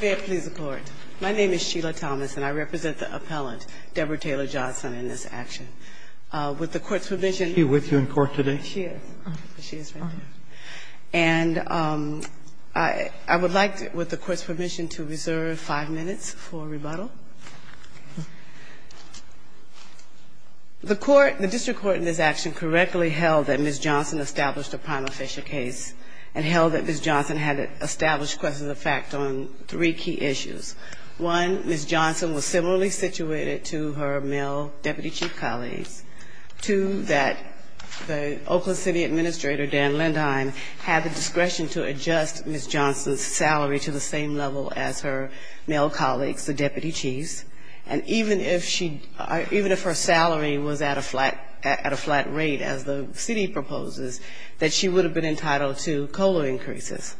May it please the court. My name is Sheila Thomas and I represent the appellant, Deborah Taylor Johnson, in this action. With the court's permission... Is she with you in court today? She is. She is right there. And I would like, with the court's permission, to reserve five minutes for rebuttal. The court, the district court in this action, correctly held that Ms. Johnson established a prima facie case and held that Ms. Johnson had established questions of fact on three key issues. One, Ms. Johnson was similarly situated to her male deputy chief colleagues. Two, that the Oakland City Administrator, Dan Lindheim, had the discretion to adjust Ms. Johnson's salary to the same level as her male colleagues, the deputy chiefs. And even if she or even if her salary was at a flat rate, as the city proposes, that she would have been entitled to COLA increases.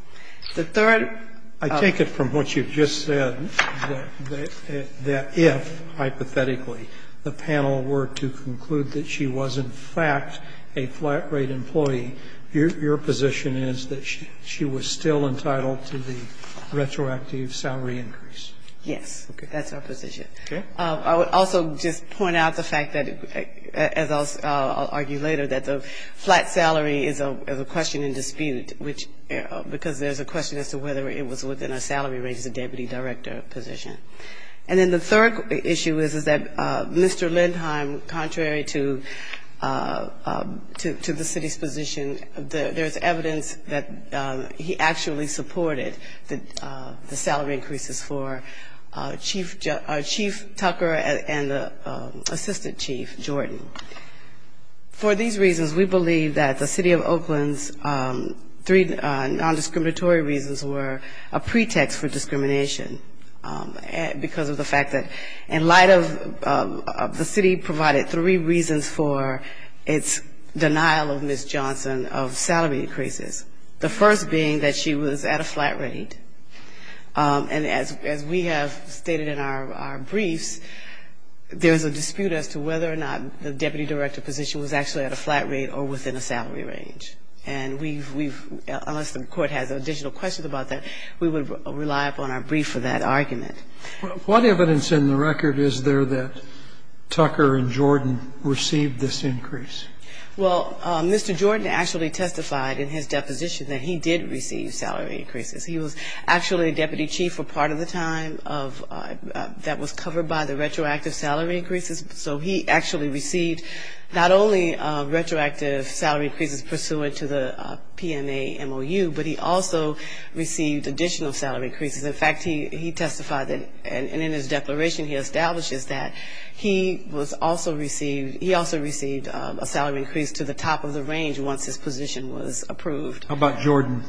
The third... I take it from what you've just said, that if, hypothetically, the panel were to conclude that she was, in fact, a flat-rate employee, your position is that she was still entitled to the retroactive salary increase. Yes. That's our position. Okay. I would also just point out the fact that, as I'll argue later, that the flat salary is a question in dispute, which because there's a question as to whether it was within our salary range as a deputy director position. And then the third issue is, is that Mr. Lindheim, contrary to the city's position, there's evidence that he actually supported the salary increases for Chief Tucker and the assistant chief, Jordan. For these reasons, we believe that the city of Oakland's three nondiscriminatory reasons were a pretext for discrimination, because of the fact that in light of the city provided three reasons for its denial of Ms. Johnson, the first being that she was at a flat rate, and as we have stated in our briefs, there's a dispute as to whether or not the deputy director position was actually at a flat rate or within a salary range. And we've, unless the Court has additional questions about that, we would rely upon our brief for that argument. What evidence in the record is there that Tucker and Jordan received this increase? Well, Mr. Jordan actually testified in his deposition that he did receive salary increases. He was actually a deputy chief for part of the time that was covered by the retroactive salary increases. So he actually received not only retroactive salary increases pursuant to the PMA MOU, but he also received additional salary increases. In fact, he testified that, and in his declaration he establishes that, he was also received, he also received a salary increase to the top of the range once his position was approved. How about Jordan?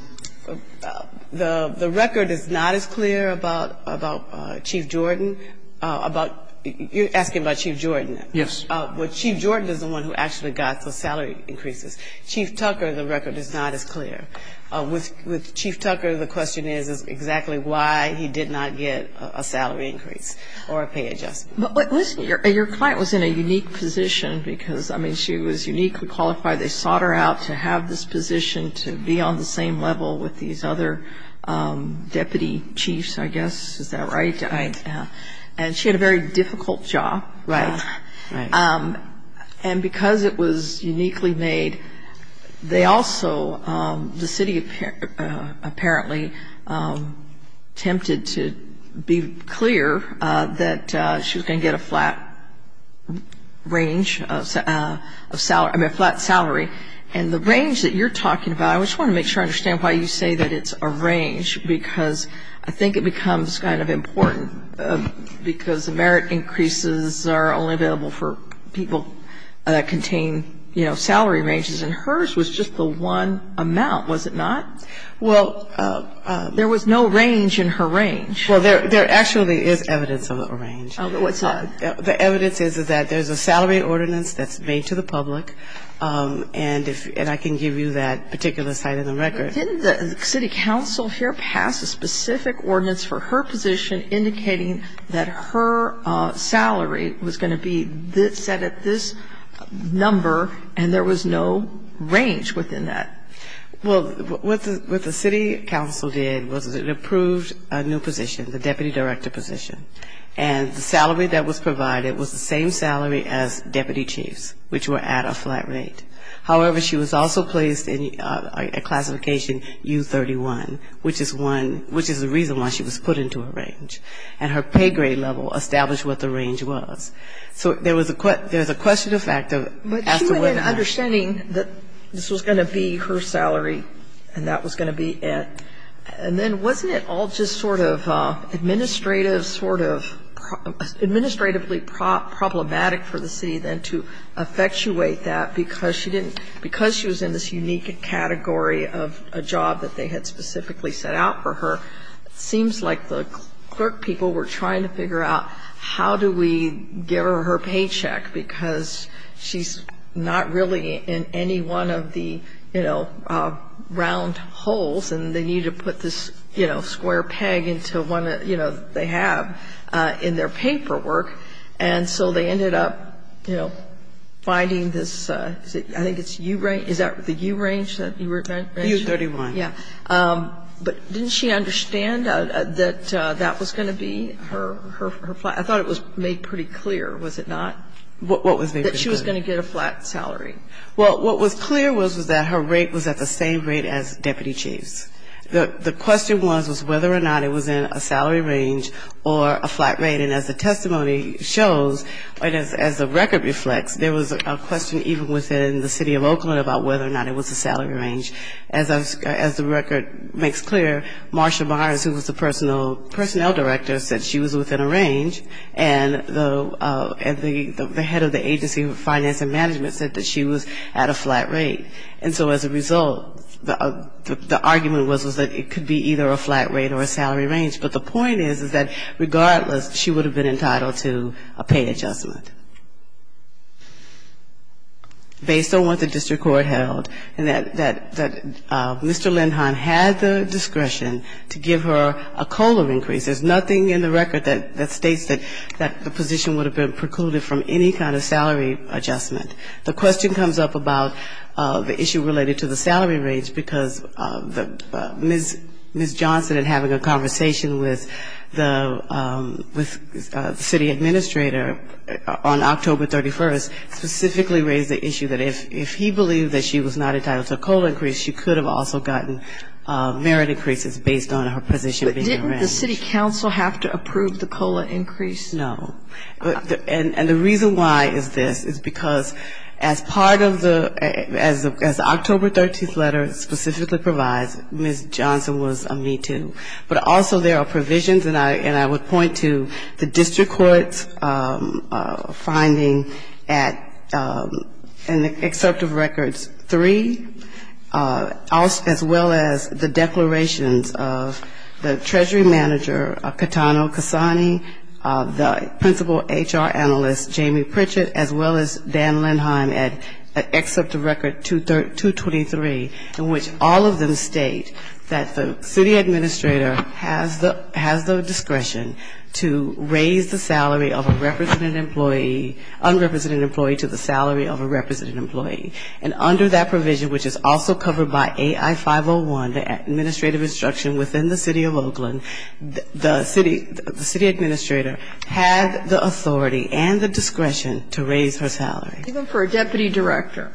The record is not as clear about Chief Jordan, about, you're asking about Chief Jordan? Yes. Well, Chief Jordan is the one who actually got the salary increases. Chief Tucker, the record is not as clear. With Chief Tucker, the question is exactly why he did not get a salary increase or a pay adjustment. But listen, your client was in a unique position because, I mean, she was uniquely qualified. They sought her out to have this position to be on the same level with these other deputy chiefs, I guess. Is that right? Right. And she had a very difficult job. Right. Right. And because it was uniquely made, they also, the city apparently, attempted to be clear that she was going to get a flat range of salary, I mean, a flat salary. And the range that you're talking about, I just want to make sure I understand why you say that it's a range because I think it becomes kind of important because the merit increases are only available for people that contain, you know, salary ranges. And hers was just the one amount, was it not? Well, there was no range in her range. Well, there actually is evidence of a range. What's that? The evidence is that there's a salary ordinance that's made to the public, and I can give you that particular site in the record. Didn't the city council here pass a specific ordinance for her position indicating that her salary was going to be set at this number and there was no range within that? Well, what the city council did was it approved a new position, the deputy director position. And the salary that was provided was the same salary as deputy chiefs, which were at a flat rate. However, she was also placed in a classification U31, which is one ‑‑ which is the reason why she was put into a range. And her pay grade level established what the range was. So there was a question of fact as to whether or not ‑‑ But she went in understanding that this was going to be her salary and that was going to be it. And then wasn't it all just sort of administrative sort of ‑‑ Because she was in this unique category of a job that they had specifically set out for her, it seems like the clerk people were trying to figure out how do we give her her paycheck because she's not really in any one of the, you know, round holes and they need to put this, you know, square peg into one that, you know, they have in their paperwork. And so they ended up, you know, finding this, I think it's U‑range. Is that the U‑range that you were in? U31. Yeah. But didn't she understand that that was going to be her flat? I thought it was made pretty clear, was it not? What was made pretty clear? That she was going to get a flat salary. Well, what was clear was that her rate was at the same rate as deputy chiefs. The question was whether or not it was in a salary range or a flat rate. And as the testimony shows, as the record reflects, there was a question even within the city of Oakland about whether or not it was a salary range. As the record makes clear, Marsha Myers, who was the personnel director, said she was within a range. And the head of the agency finance and management said that she was at a flat rate. And so as a result, the argument was that it could be either a flat rate or a salary range. But the point is, is that regardless, she would have been entitled to a pay adjustment. Based on what the district court held, and that Mr. Lindheim had the discretion to give her a COLA increase. There's nothing in the record that states that the position would have been precluded from any kind of salary adjustment. The question comes up about the issue related to the salary range, because Ms. Johnson, in having a conversation with the city administrator on October 31st, specifically raised the issue that if he believed that she was not entitled to a COLA increase, she could have also gotten merit increases based on her position being in a range. But didn't the city council have to approve the COLA increase? No. And the reason why is this, is because as part of the, as the October 13th letter specifically provides, Ms. Johnson was a me too. But also there are provisions, and I would point to the district court's finding at, in the Excerptive Records 3, as well as the declarations of the treasury manager, Catano Cassani, the principal HR analyst, Jamie Pritchett, as well as Dan Lindheim at Excerptive Record 223, in which all of them state that the city administrator has the discretion to raise the salary of a representative employee, unrepresented employee, to the salary of a representative employee. And under that provision, which is also covered by AI-501, the administrative instruction within the city of Oakland, the city administrator had the authority and the discretion to raise her salary. Even for a deputy director?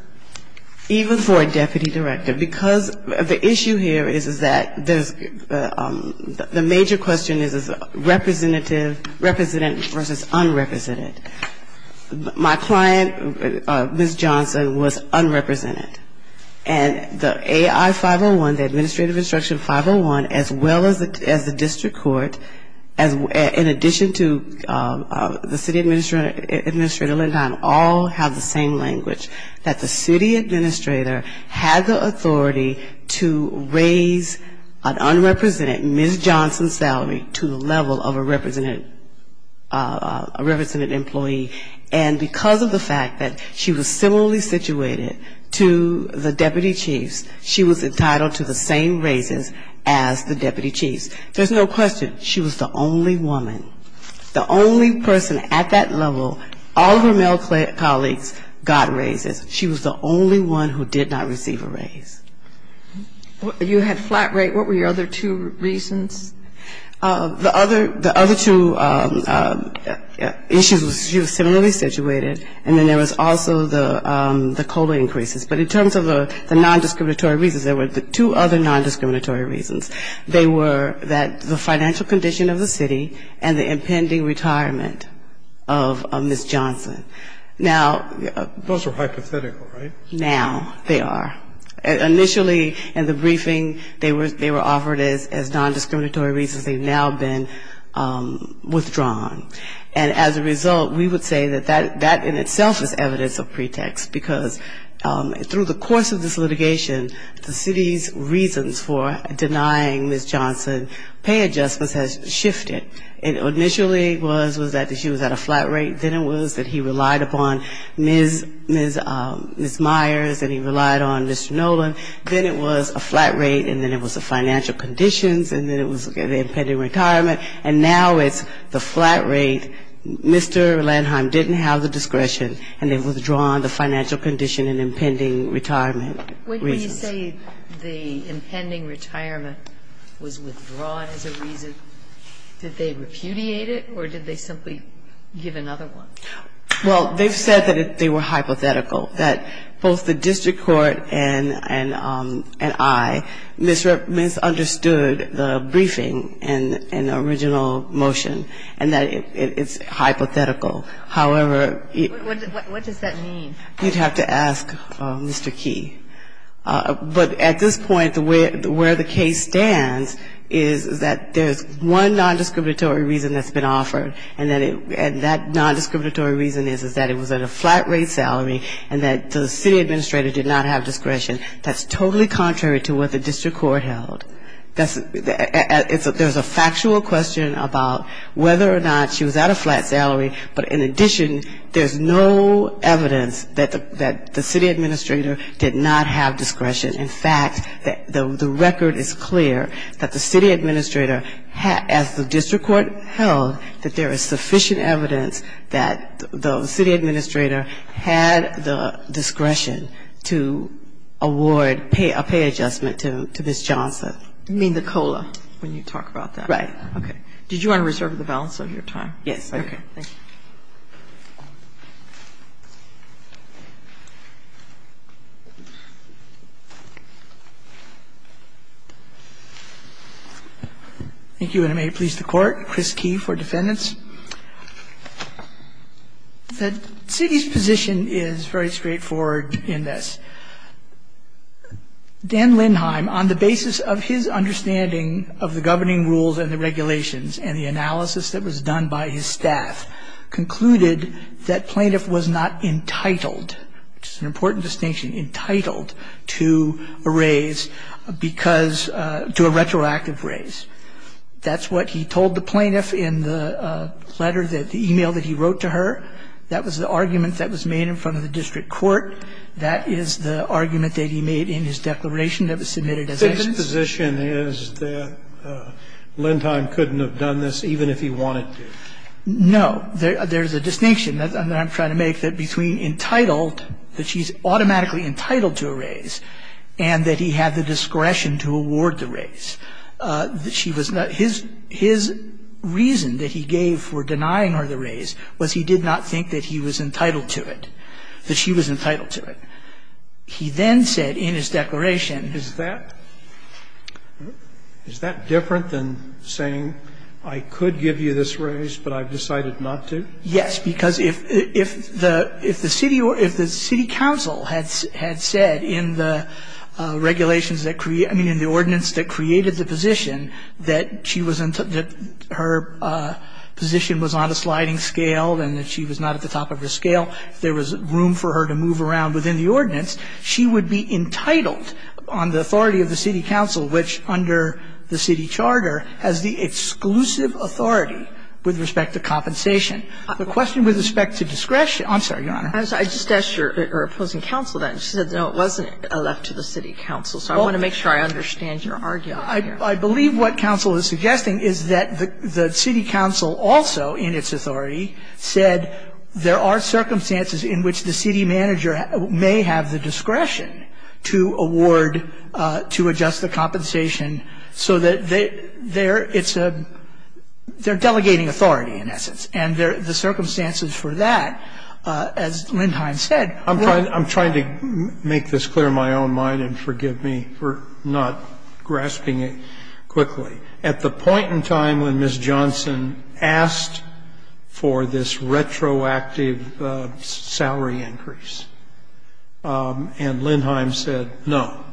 Even for a deputy director. Because the issue here is that there's, the major question is, is representative, representative versus unrepresented. My client, Ms. Johnson, was unrepresented. And the AI-501, the administrative instruction 501, as well as the district court, in addition to the city administrator, and Dan Lindheim, all have the same language, that the city administrator had the authority to raise an unrepresented Ms. Johnson's salary to the level of a representative, a representative employee. And because of the fact that she was similarly situated to the deputy chiefs, she was entitled to the same raises as the deputy chiefs. There's no question, she was the only woman, the only person at that level, all of her employees, all of her male colleagues got raises. She was the only one who did not receive a raise. You had flat rate. What were your other two reasons? The other two issues, she was similarly situated, and then there was also the COLA increases. But in terms of the nondiscriminatory reasons, there were two other nondiscriminatory reasons. They were that the financial condition of the city and the impending retirement of Ms. Johnson. Now they are. Initially in the briefing, they were offered as nondiscriminatory reasons. They've now been withdrawn. And as a result, we would say that that in itself is evidence of pretext, because through the course of this litigation, the city's reasons for denying Ms. Johnson pay adjustments has shifted. It initially was that she was at a flat rate. Then it was that he relied upon Ms. Myers and he relied on Mr. Nolan. Then it was a flat rate, and then it was the financial conditions, and then it was the impending retirement. And now it's the flat rate. Mr. Landheim didn't have the discretion, and they've withdrawn the financial condition and impending retirement reasons. Sotomayor, did they say the impending retirement was withdrawn as a reason? Did they repudiate it, or did they simply give another one? Well, they've said that they were hypothetical, that both the district court and I misunderstood the briefing and the original motion, and that it's hypothetical. However, it's hypothetical. What does that mean? You'd have to ask Mr. Key. But at this point, where the case stands is that there's one non-discriminatory reason that's been offered, and that non-discriminatory reason is that it was at a flat rate salary and that the city administrator did not have discretion. That's totally contrary to what the district court held. There's a factual question about whether or not she was at a flat salary, but in addition, there's no evidence that the city administrator did not have discretion. In fact, the record is clear that the city administrator, as the district court held, that there is sufficient evidence that the city administrator had the discretion to award a pay adjustment to Ms. Johnson. You mean the COLA, when you talk about that? Right. Okay. Did you want to reserve the balance of your time? Yes. Okay. Thank you. Thank you. Thank you, and I may please the Court. Chris Key for defendants. The city's position is very straightforward in this. Dan Lindheim, on the basis of his understanding of the governing rules and the regulations and the analysis that was done by his staff, concluded that plaintiff was not entitled to, which is an important distinction, entitled to a raise because to a retroactive raise. That's what he told the plaintiff in the letter that the e-mail that he wrote to her. That was the argument that was made in front of the district court. That is the argument that he made in his declaration that was submitted as evidence. The city's position is that Lindheim couldn't have done this even if he wanted to. No. There's a distinction that I'm trying to make that between entitled, that she's automatically entitled to a raise, and that he had the discretion to award the raise. She was not his reason that he gave for denying her the raise was he did not think that he was entitled to it, that she was entitled to it. He then said in his declaration Is that different than saying I could give you this raise, but I've decided not to? Yes. Because if the city council had said in the regulations that created, I mean, in the ordinance that created the position that she was in, that her position was on a sliding scale and that she was not at the top of her scale, if there was room for her to move around within the ordinance, she would be entitled on the authority of the city council, which under the city charter has the exclusive authority with respect to compensation. The question with respect to discretion – I'm sorry, Your Honor. I just asked your opposing counsel that, and she said, no, it wasn't left to the city council. So I want to make sure I understand your argument here. I believe what counsel is suggesting is that the city council also in its authority said there are circumstances in which the city manager may have the discretion to award, to adjust the compensation, so that they're – it's a – they're delegating authority, in essence. And the circumstances for that, as Lindheim said – I'm trying to make this clear in my own mind, and forgive me for not grasping it quickly. At the point in time when Ms. Johnson asked for this retroactive salary increase and Lindheim said no,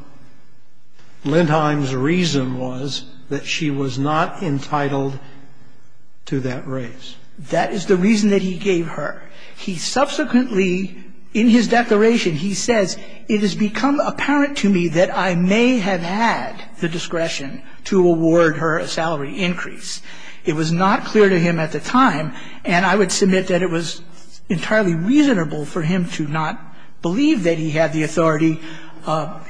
Lindheim's reason was that she was not entitled to that raise. That is the reason that he gave her. He subsequently, in his declaration, he says, And I would submit that it was entirely reasonable for him to not believe that he had the authority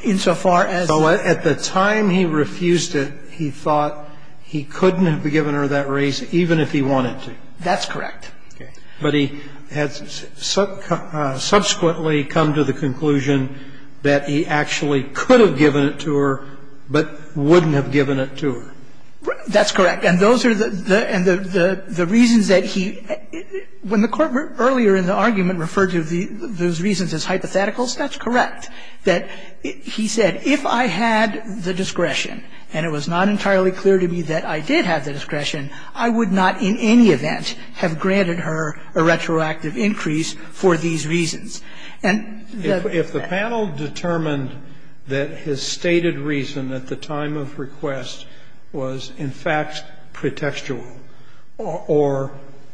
insofar as – So at the time he refused it, he thought he couldn't have given her that raise even if he wanted to. That's correct. And he said, And I would submit that it was entirely reasonable for him to not believe that he had the authority insofar as he wanted to. That's correct. And those are the reasons that he – when the Court earlier in the argument referred to those reasons as hypotheticals, that's correct, that he said, if I had the discretion and it was not entirely clear to me that I did have the discretion, I would not in any event have granted her a retroactive increase for these reasons. And the – If the panel determined that his stated reason at the time of request was in fact pretextual or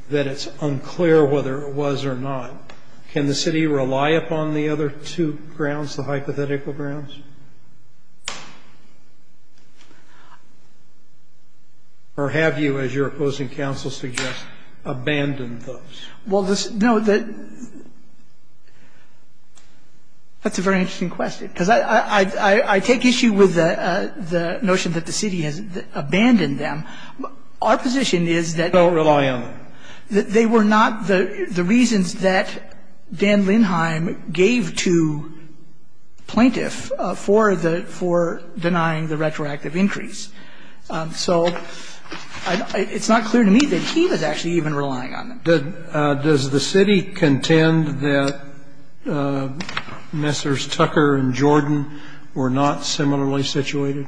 that it's unclear whether it was or not, can the city rely upon the other two grounds, the hypothetical grounds? Or have you, as your opposing counsel suggests, abandoned those? Well, the – no, the – that's a very interesting question, because I take issue with the notion that the city has abandoned them. Our position is that – Don't rely on them. They were not the reasons that Dan Lindheim gave to plaintiff, the plaintiff for denying the retroactive increase. So it's not clear to me that he was actually even relying on them. Does the city contend that Messrs. Tucker and Jordan were not similarly situated?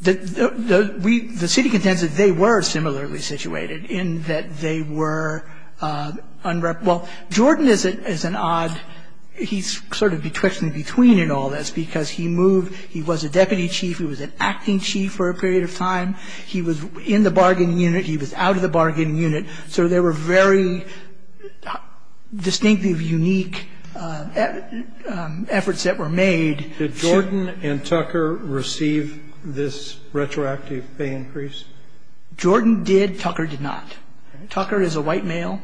The city contends that they were similarly situated in that they were – well, Jordan is an odd – he's sort of betwixt and between in all this, because he moved – he was a deputy chief, he was an acting chief for a period of time. He was in the bargaining unit, he was out of the bargaining unit. So there were very distinctly unique efforts that were made. Did Jordan and Tucker receive this retroactive pay increase? Jordan did. Tucker did not. Tucker is a white male.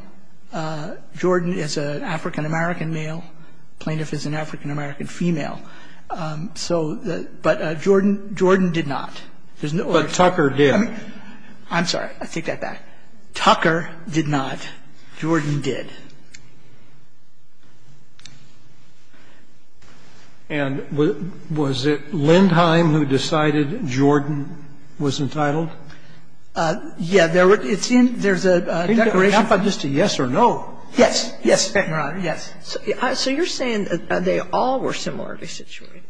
Jordan is an African-American male. Plaintiff is an African-American female. So the – but Jordan – Jordan did not. There's no other – But Tucker did. I'm sorry. I take that back. Tucker did not. Jordan did. And was it Lindheim who decided Jordan was entitled? Yeah. It's in – there's a declaration. Isn't there enough of just a yes or no? Yes. Yes, Your Honor. Yes. So you're saying that they all were similarly situated?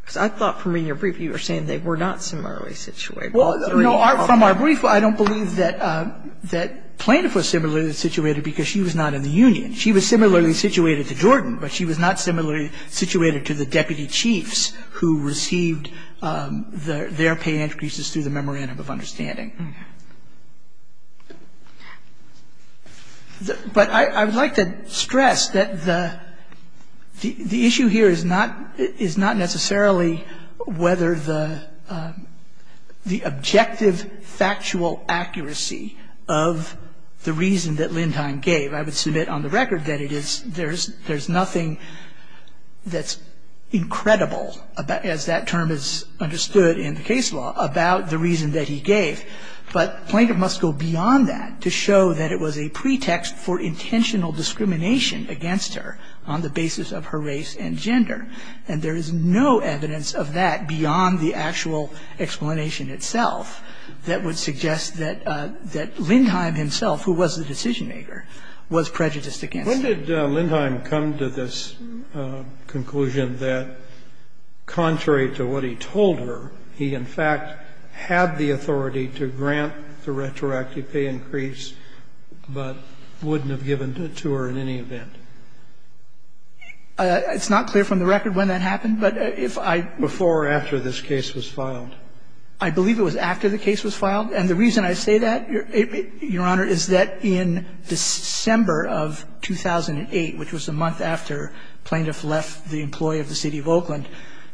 Because I thought from reading your brief you were saying they were not similarly situated, all three of them. Well, no. From our brief, I don't believe that Plaintiff was similarly situated because she was not in the union. She was similarly situated to Jordan, but she was not similarly situated to the deputy chiefs who received their pay increases through the memorandum of understanding. But I would like to stress that the issue here is not necessarily whether the objective factual accuracy of the reason that Lindheim gave – I would submit on the record that it is – there's nothing that's incredible as that term is understood in the reason that he gave. But Plaintiff must go beyond that to show that it was a pretext for intentional discrimination against her on the basis of her race and gender. And there is no evidence of that beyond the actual explanation itself that would suggest that Lindheim himself, who was the decision-maker, was prejudiced against her. When did Lindheim come to this conclusion that contrary to what he told her, he in fact had the authority to grant the retroactive pay increase, but wouldn't have given it to her in any event? It's not clear from the record when that happened, but if I – Before or after this case was filed? I believe it was after the case was filed. And the reason I say that, Your Honor, is that in December of 2008, which was a month after Plaintiff left the employ of the City of Oakland,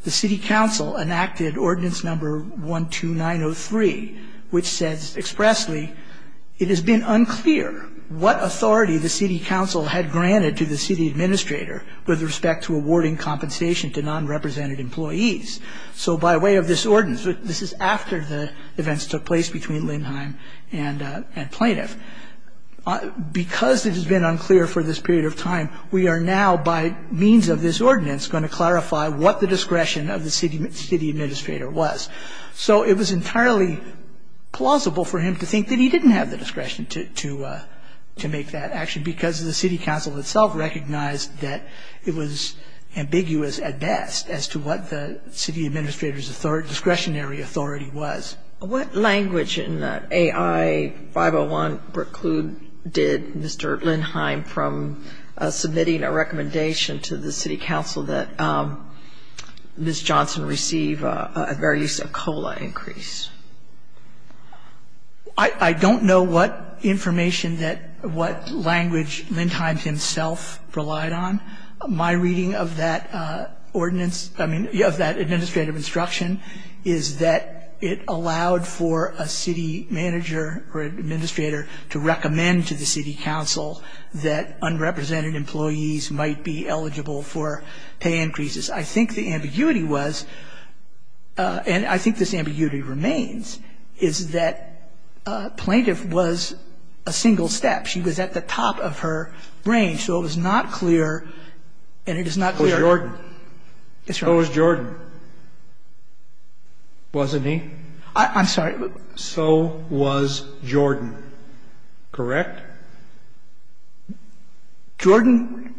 the City Council enacted Ordinance Number 12903, which says expressly, It has been unclear what authority the City Council had granted to the City Administrator with respect to awarding compensation to non-represented employees. So by way of this Ordinance – this is after the events took place between Lindheim and Plaintiff – because it has been unclear for this period of time, we are now, by means of this Ordinance, going to clarify what the discretion of the City Administrator was. So it was entirely plausible for him to think that he didn't have the discretion to make that action, because the City Council itself recognized that it was ambiguous at best as to what the City Administrator's discretionary authority was. What language in the AI-501 preclude did Mr. Lindheim from submitting a recommendation to the City Council that Ms. Johnson receive a very use of COLA increase? I don't know what information that – what language Lindheim himself relied on. My reading of that ordinance – I mean, of that administrative instruction – is that it allowed for a city manager or administrator to recommend to the City Council that unrepresented employees might be eligible for pay increases. I think the ambiguity was – and I think this ambiguity remains – is that Plaintiff was a single step. She was at the top of her range. So it was not clear, and it is not clear – Who was Jordan? Yes, Your Honor. Who was Jordan? Wasn't he? I'm sorry. So was Jordan, correct? Jordan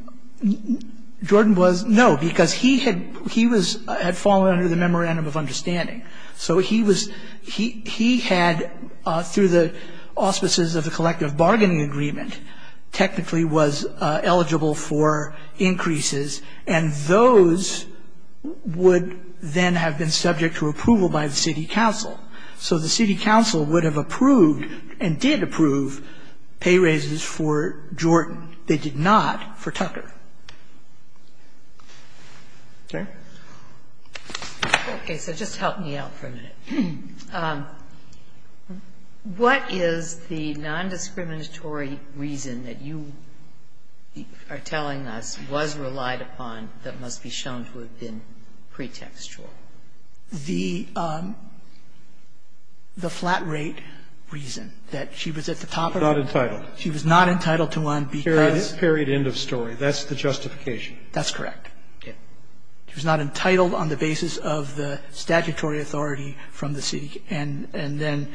– Jordan was – no, because he had – he was – had fallen under the memorandum of understanding. So he was – he had, through the auspices of the collective bargaining agreement, technically was eligible for increases, and those would then have been subject to approval by the City Council. So the City Council would have approved and did approve pay raises for Jordan. They did not for Tucker. Okay? Okay. So just help me out for a minute. What is the nondiscriminatory reason that you are telling us was relied upon that must be shown to have been pretextual? The flat rate reason that she was at the top of her – She was not entitled. She was not entitled to one because – Period, end of story. That's the justification. That's correct. She was not entitled on the basis of the statutory authority from the city, and then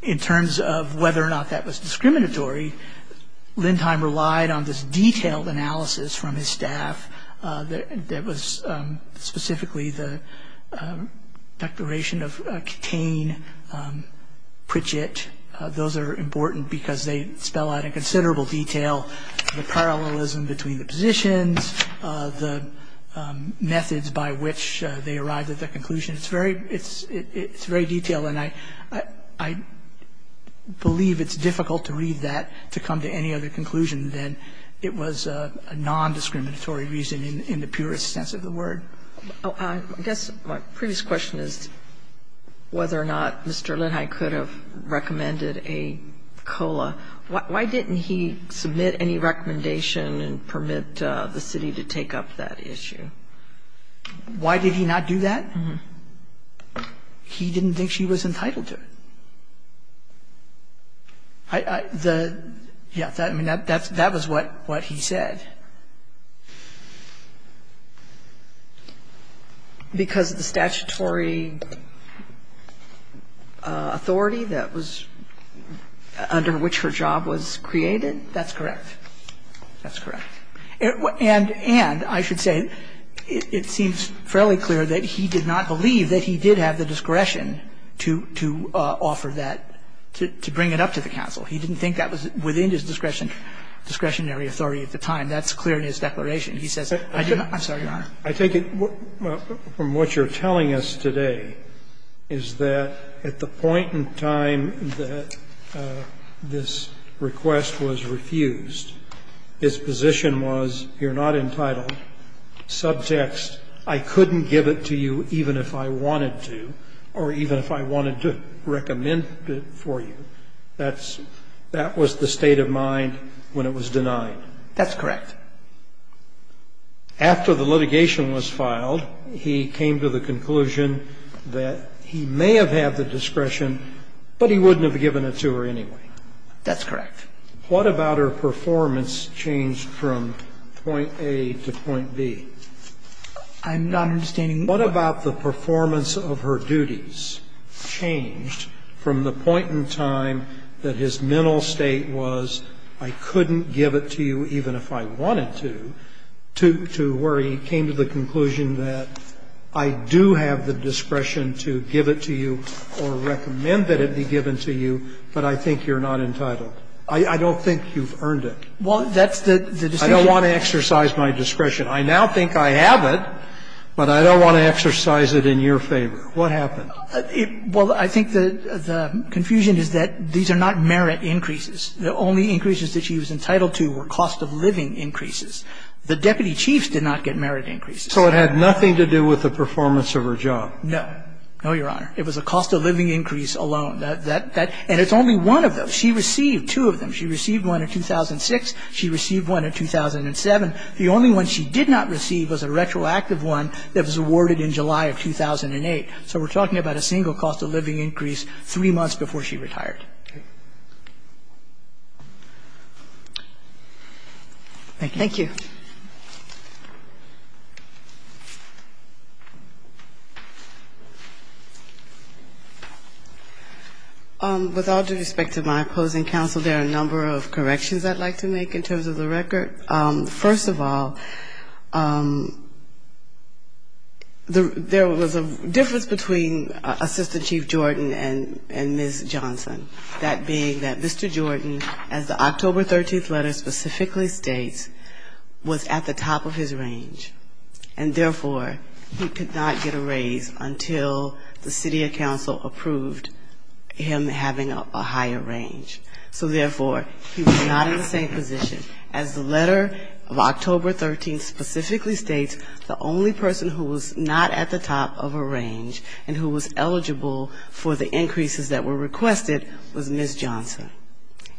in terms of whether or not that was discriminatory, Lindheim relied on this detailed analysis from his staff that was specifically the declaration of Katain, Pritchett. Those are important because they spell out in considerable detail the parallelism between the positions, the methods by which they arrived at the conclusion. It's very detailed, and I believe it's difficult to read that to come to any other conclusion than it was a nondiscriminatory reason in the purest sense of the word. I guess my previous question is whether or not Mr. Lindheim could have recommended a COLA. Why didn't he submit any recommendation and permit the city to take up that issue? Why did he not do that? He didn't think she was entitled to it. The – yes. I mean, that was what he said. He didn't think her job was created. That's correct. That's correct. And I should say it seems fairly clear that he did not believe that he did have the discretion to offer that, to bring it up to the council. He didn't think that was within his discretionary authority at the time. That's clear in his declaration. He says, I'm sorry, Your Honor. I take it from what you're telling us today is that at the point in time that this request was refused, his position was, you're not entitled, subtext, I couldn't give it to you even if I wanted to, or even if I wanted to recommend it for you. That's – that was the state of mind when it was denied. That's correct. After the litigation was filed, he came to the conclusion that he may have had the discretion, but he wouldn't have given it to her anyway. That's correct. What about her performance changed from point A to point B? I'm not understanding. What about the performance of her duties changed from the point in time that his mental state was, I couldn't give it to you even if I wanted to, to where he came to the conclusion that I do have the discretion to give it to you or recommend that it be given to you, but I think you're not entitled. I don't think you've earned it. Well, that's the decision. I don't want to exercise my discretion. I now think I have it, but I don't want to exercise it in your favor. What happened? Well, I think the confusion is that these are not merit increases. The only increases that she was entitled to were cost-of-living increases. The deputy chiefs did not get merit increases. So it had nothing to do with the performance of her job? No. No, Your Honor. It was a cost-of-living increase alone. And it's only one of those. She received two of them. She received one in 2006. She received one in 2007. The only one she did not receive was a retroactive one that was awarded in July of 2008. So we're talking about a single cost-of-living increase three months before she retired. Okay. Thank you. Thank you. With all due respect to my opposing counsel, there are a number of corrections I'd like to make in terms of the record. First of all, there was a difference between Assistant Chief Jordan and Ms. Johnson, that being that Mr. Jordan, as the October 13th letter specifically states, was at the top of his range. And therefore, he could not get a raise until the city or council approved him having a higher range. So therefore, he was not in the same position. As the letter of October 13th specifically states, the only person who was not at the top of her range and who was eligible for the increases that were requested was Ms. Johnson.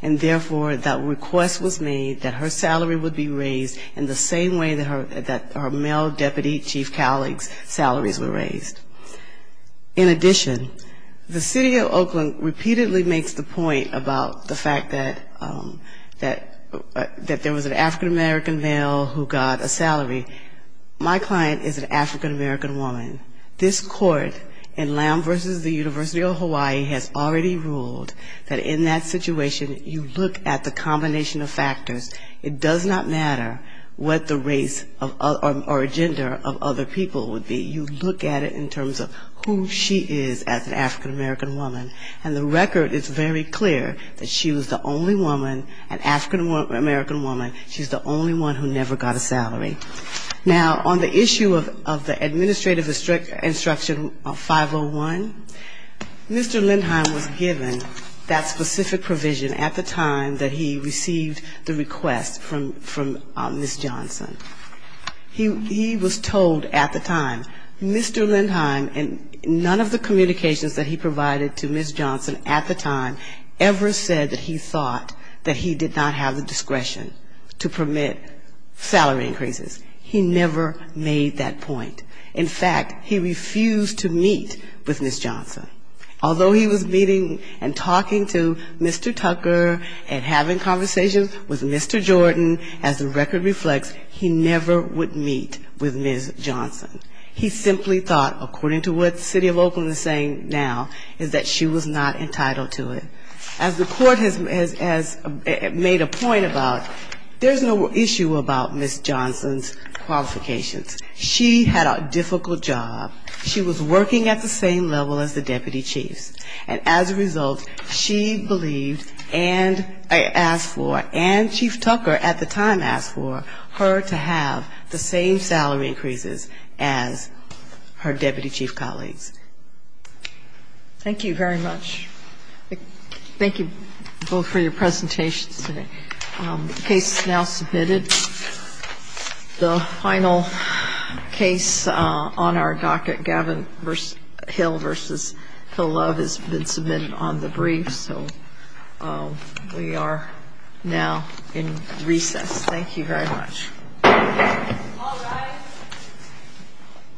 And therefore, that request was made that her salary would be raised in the same way that her male deputy chief colleagues' salaries were raised. In addition, the city of Oakland repeatedly makes the point about the fact that there was an African-American male who got a salary. My client is an African-American woman. This court in Lamb v. The University of Hawaii has already ruled that in that situation, you look at the combination of factors. It does not matter what the race or gender of other people would be. You look at it in terms of who she is as an African-American woman. And the record is very clear that she was the only woman, an African-American woman, she's the only one who never got a salary. Now, on the issue of the administrative instruction 501, Mr. Lindheim was given that specific provision at the time that he received the request from Ms. Johnson. He was told at the time, Mr. Lindheim and none of the communications that he provided to Ms. Johnson at the time ever said that he thought that he did not have the discretion to permit salary increases. He never made that point. In fact, he refused to meet with Ms. Johnson. Although he was meeting and talking to Mr. Tucker and having conversations with Mr. Jordan, as the record reflects, he never would meet with Ms. Johnson. He simply thought, according to what the city of Oakland is saying now, is that she was not entitled to it. As the Court has made a point about, there's no issue about Ms. Johnson's qualifications. She had a difficult job. She was working at the same level as the deputy chiefs. And as a result, she believed and asked for, and Chief Tucker at the time asked for, for her to have the same salary increases as her deputy chief colleagues. Thank you very much. Thank you both for your presentations today. The case is now submitted. The final case on our docket, Gavin Hill v. Hill Love, has been submitted on the brief, so we are now in recess. Thank you very much.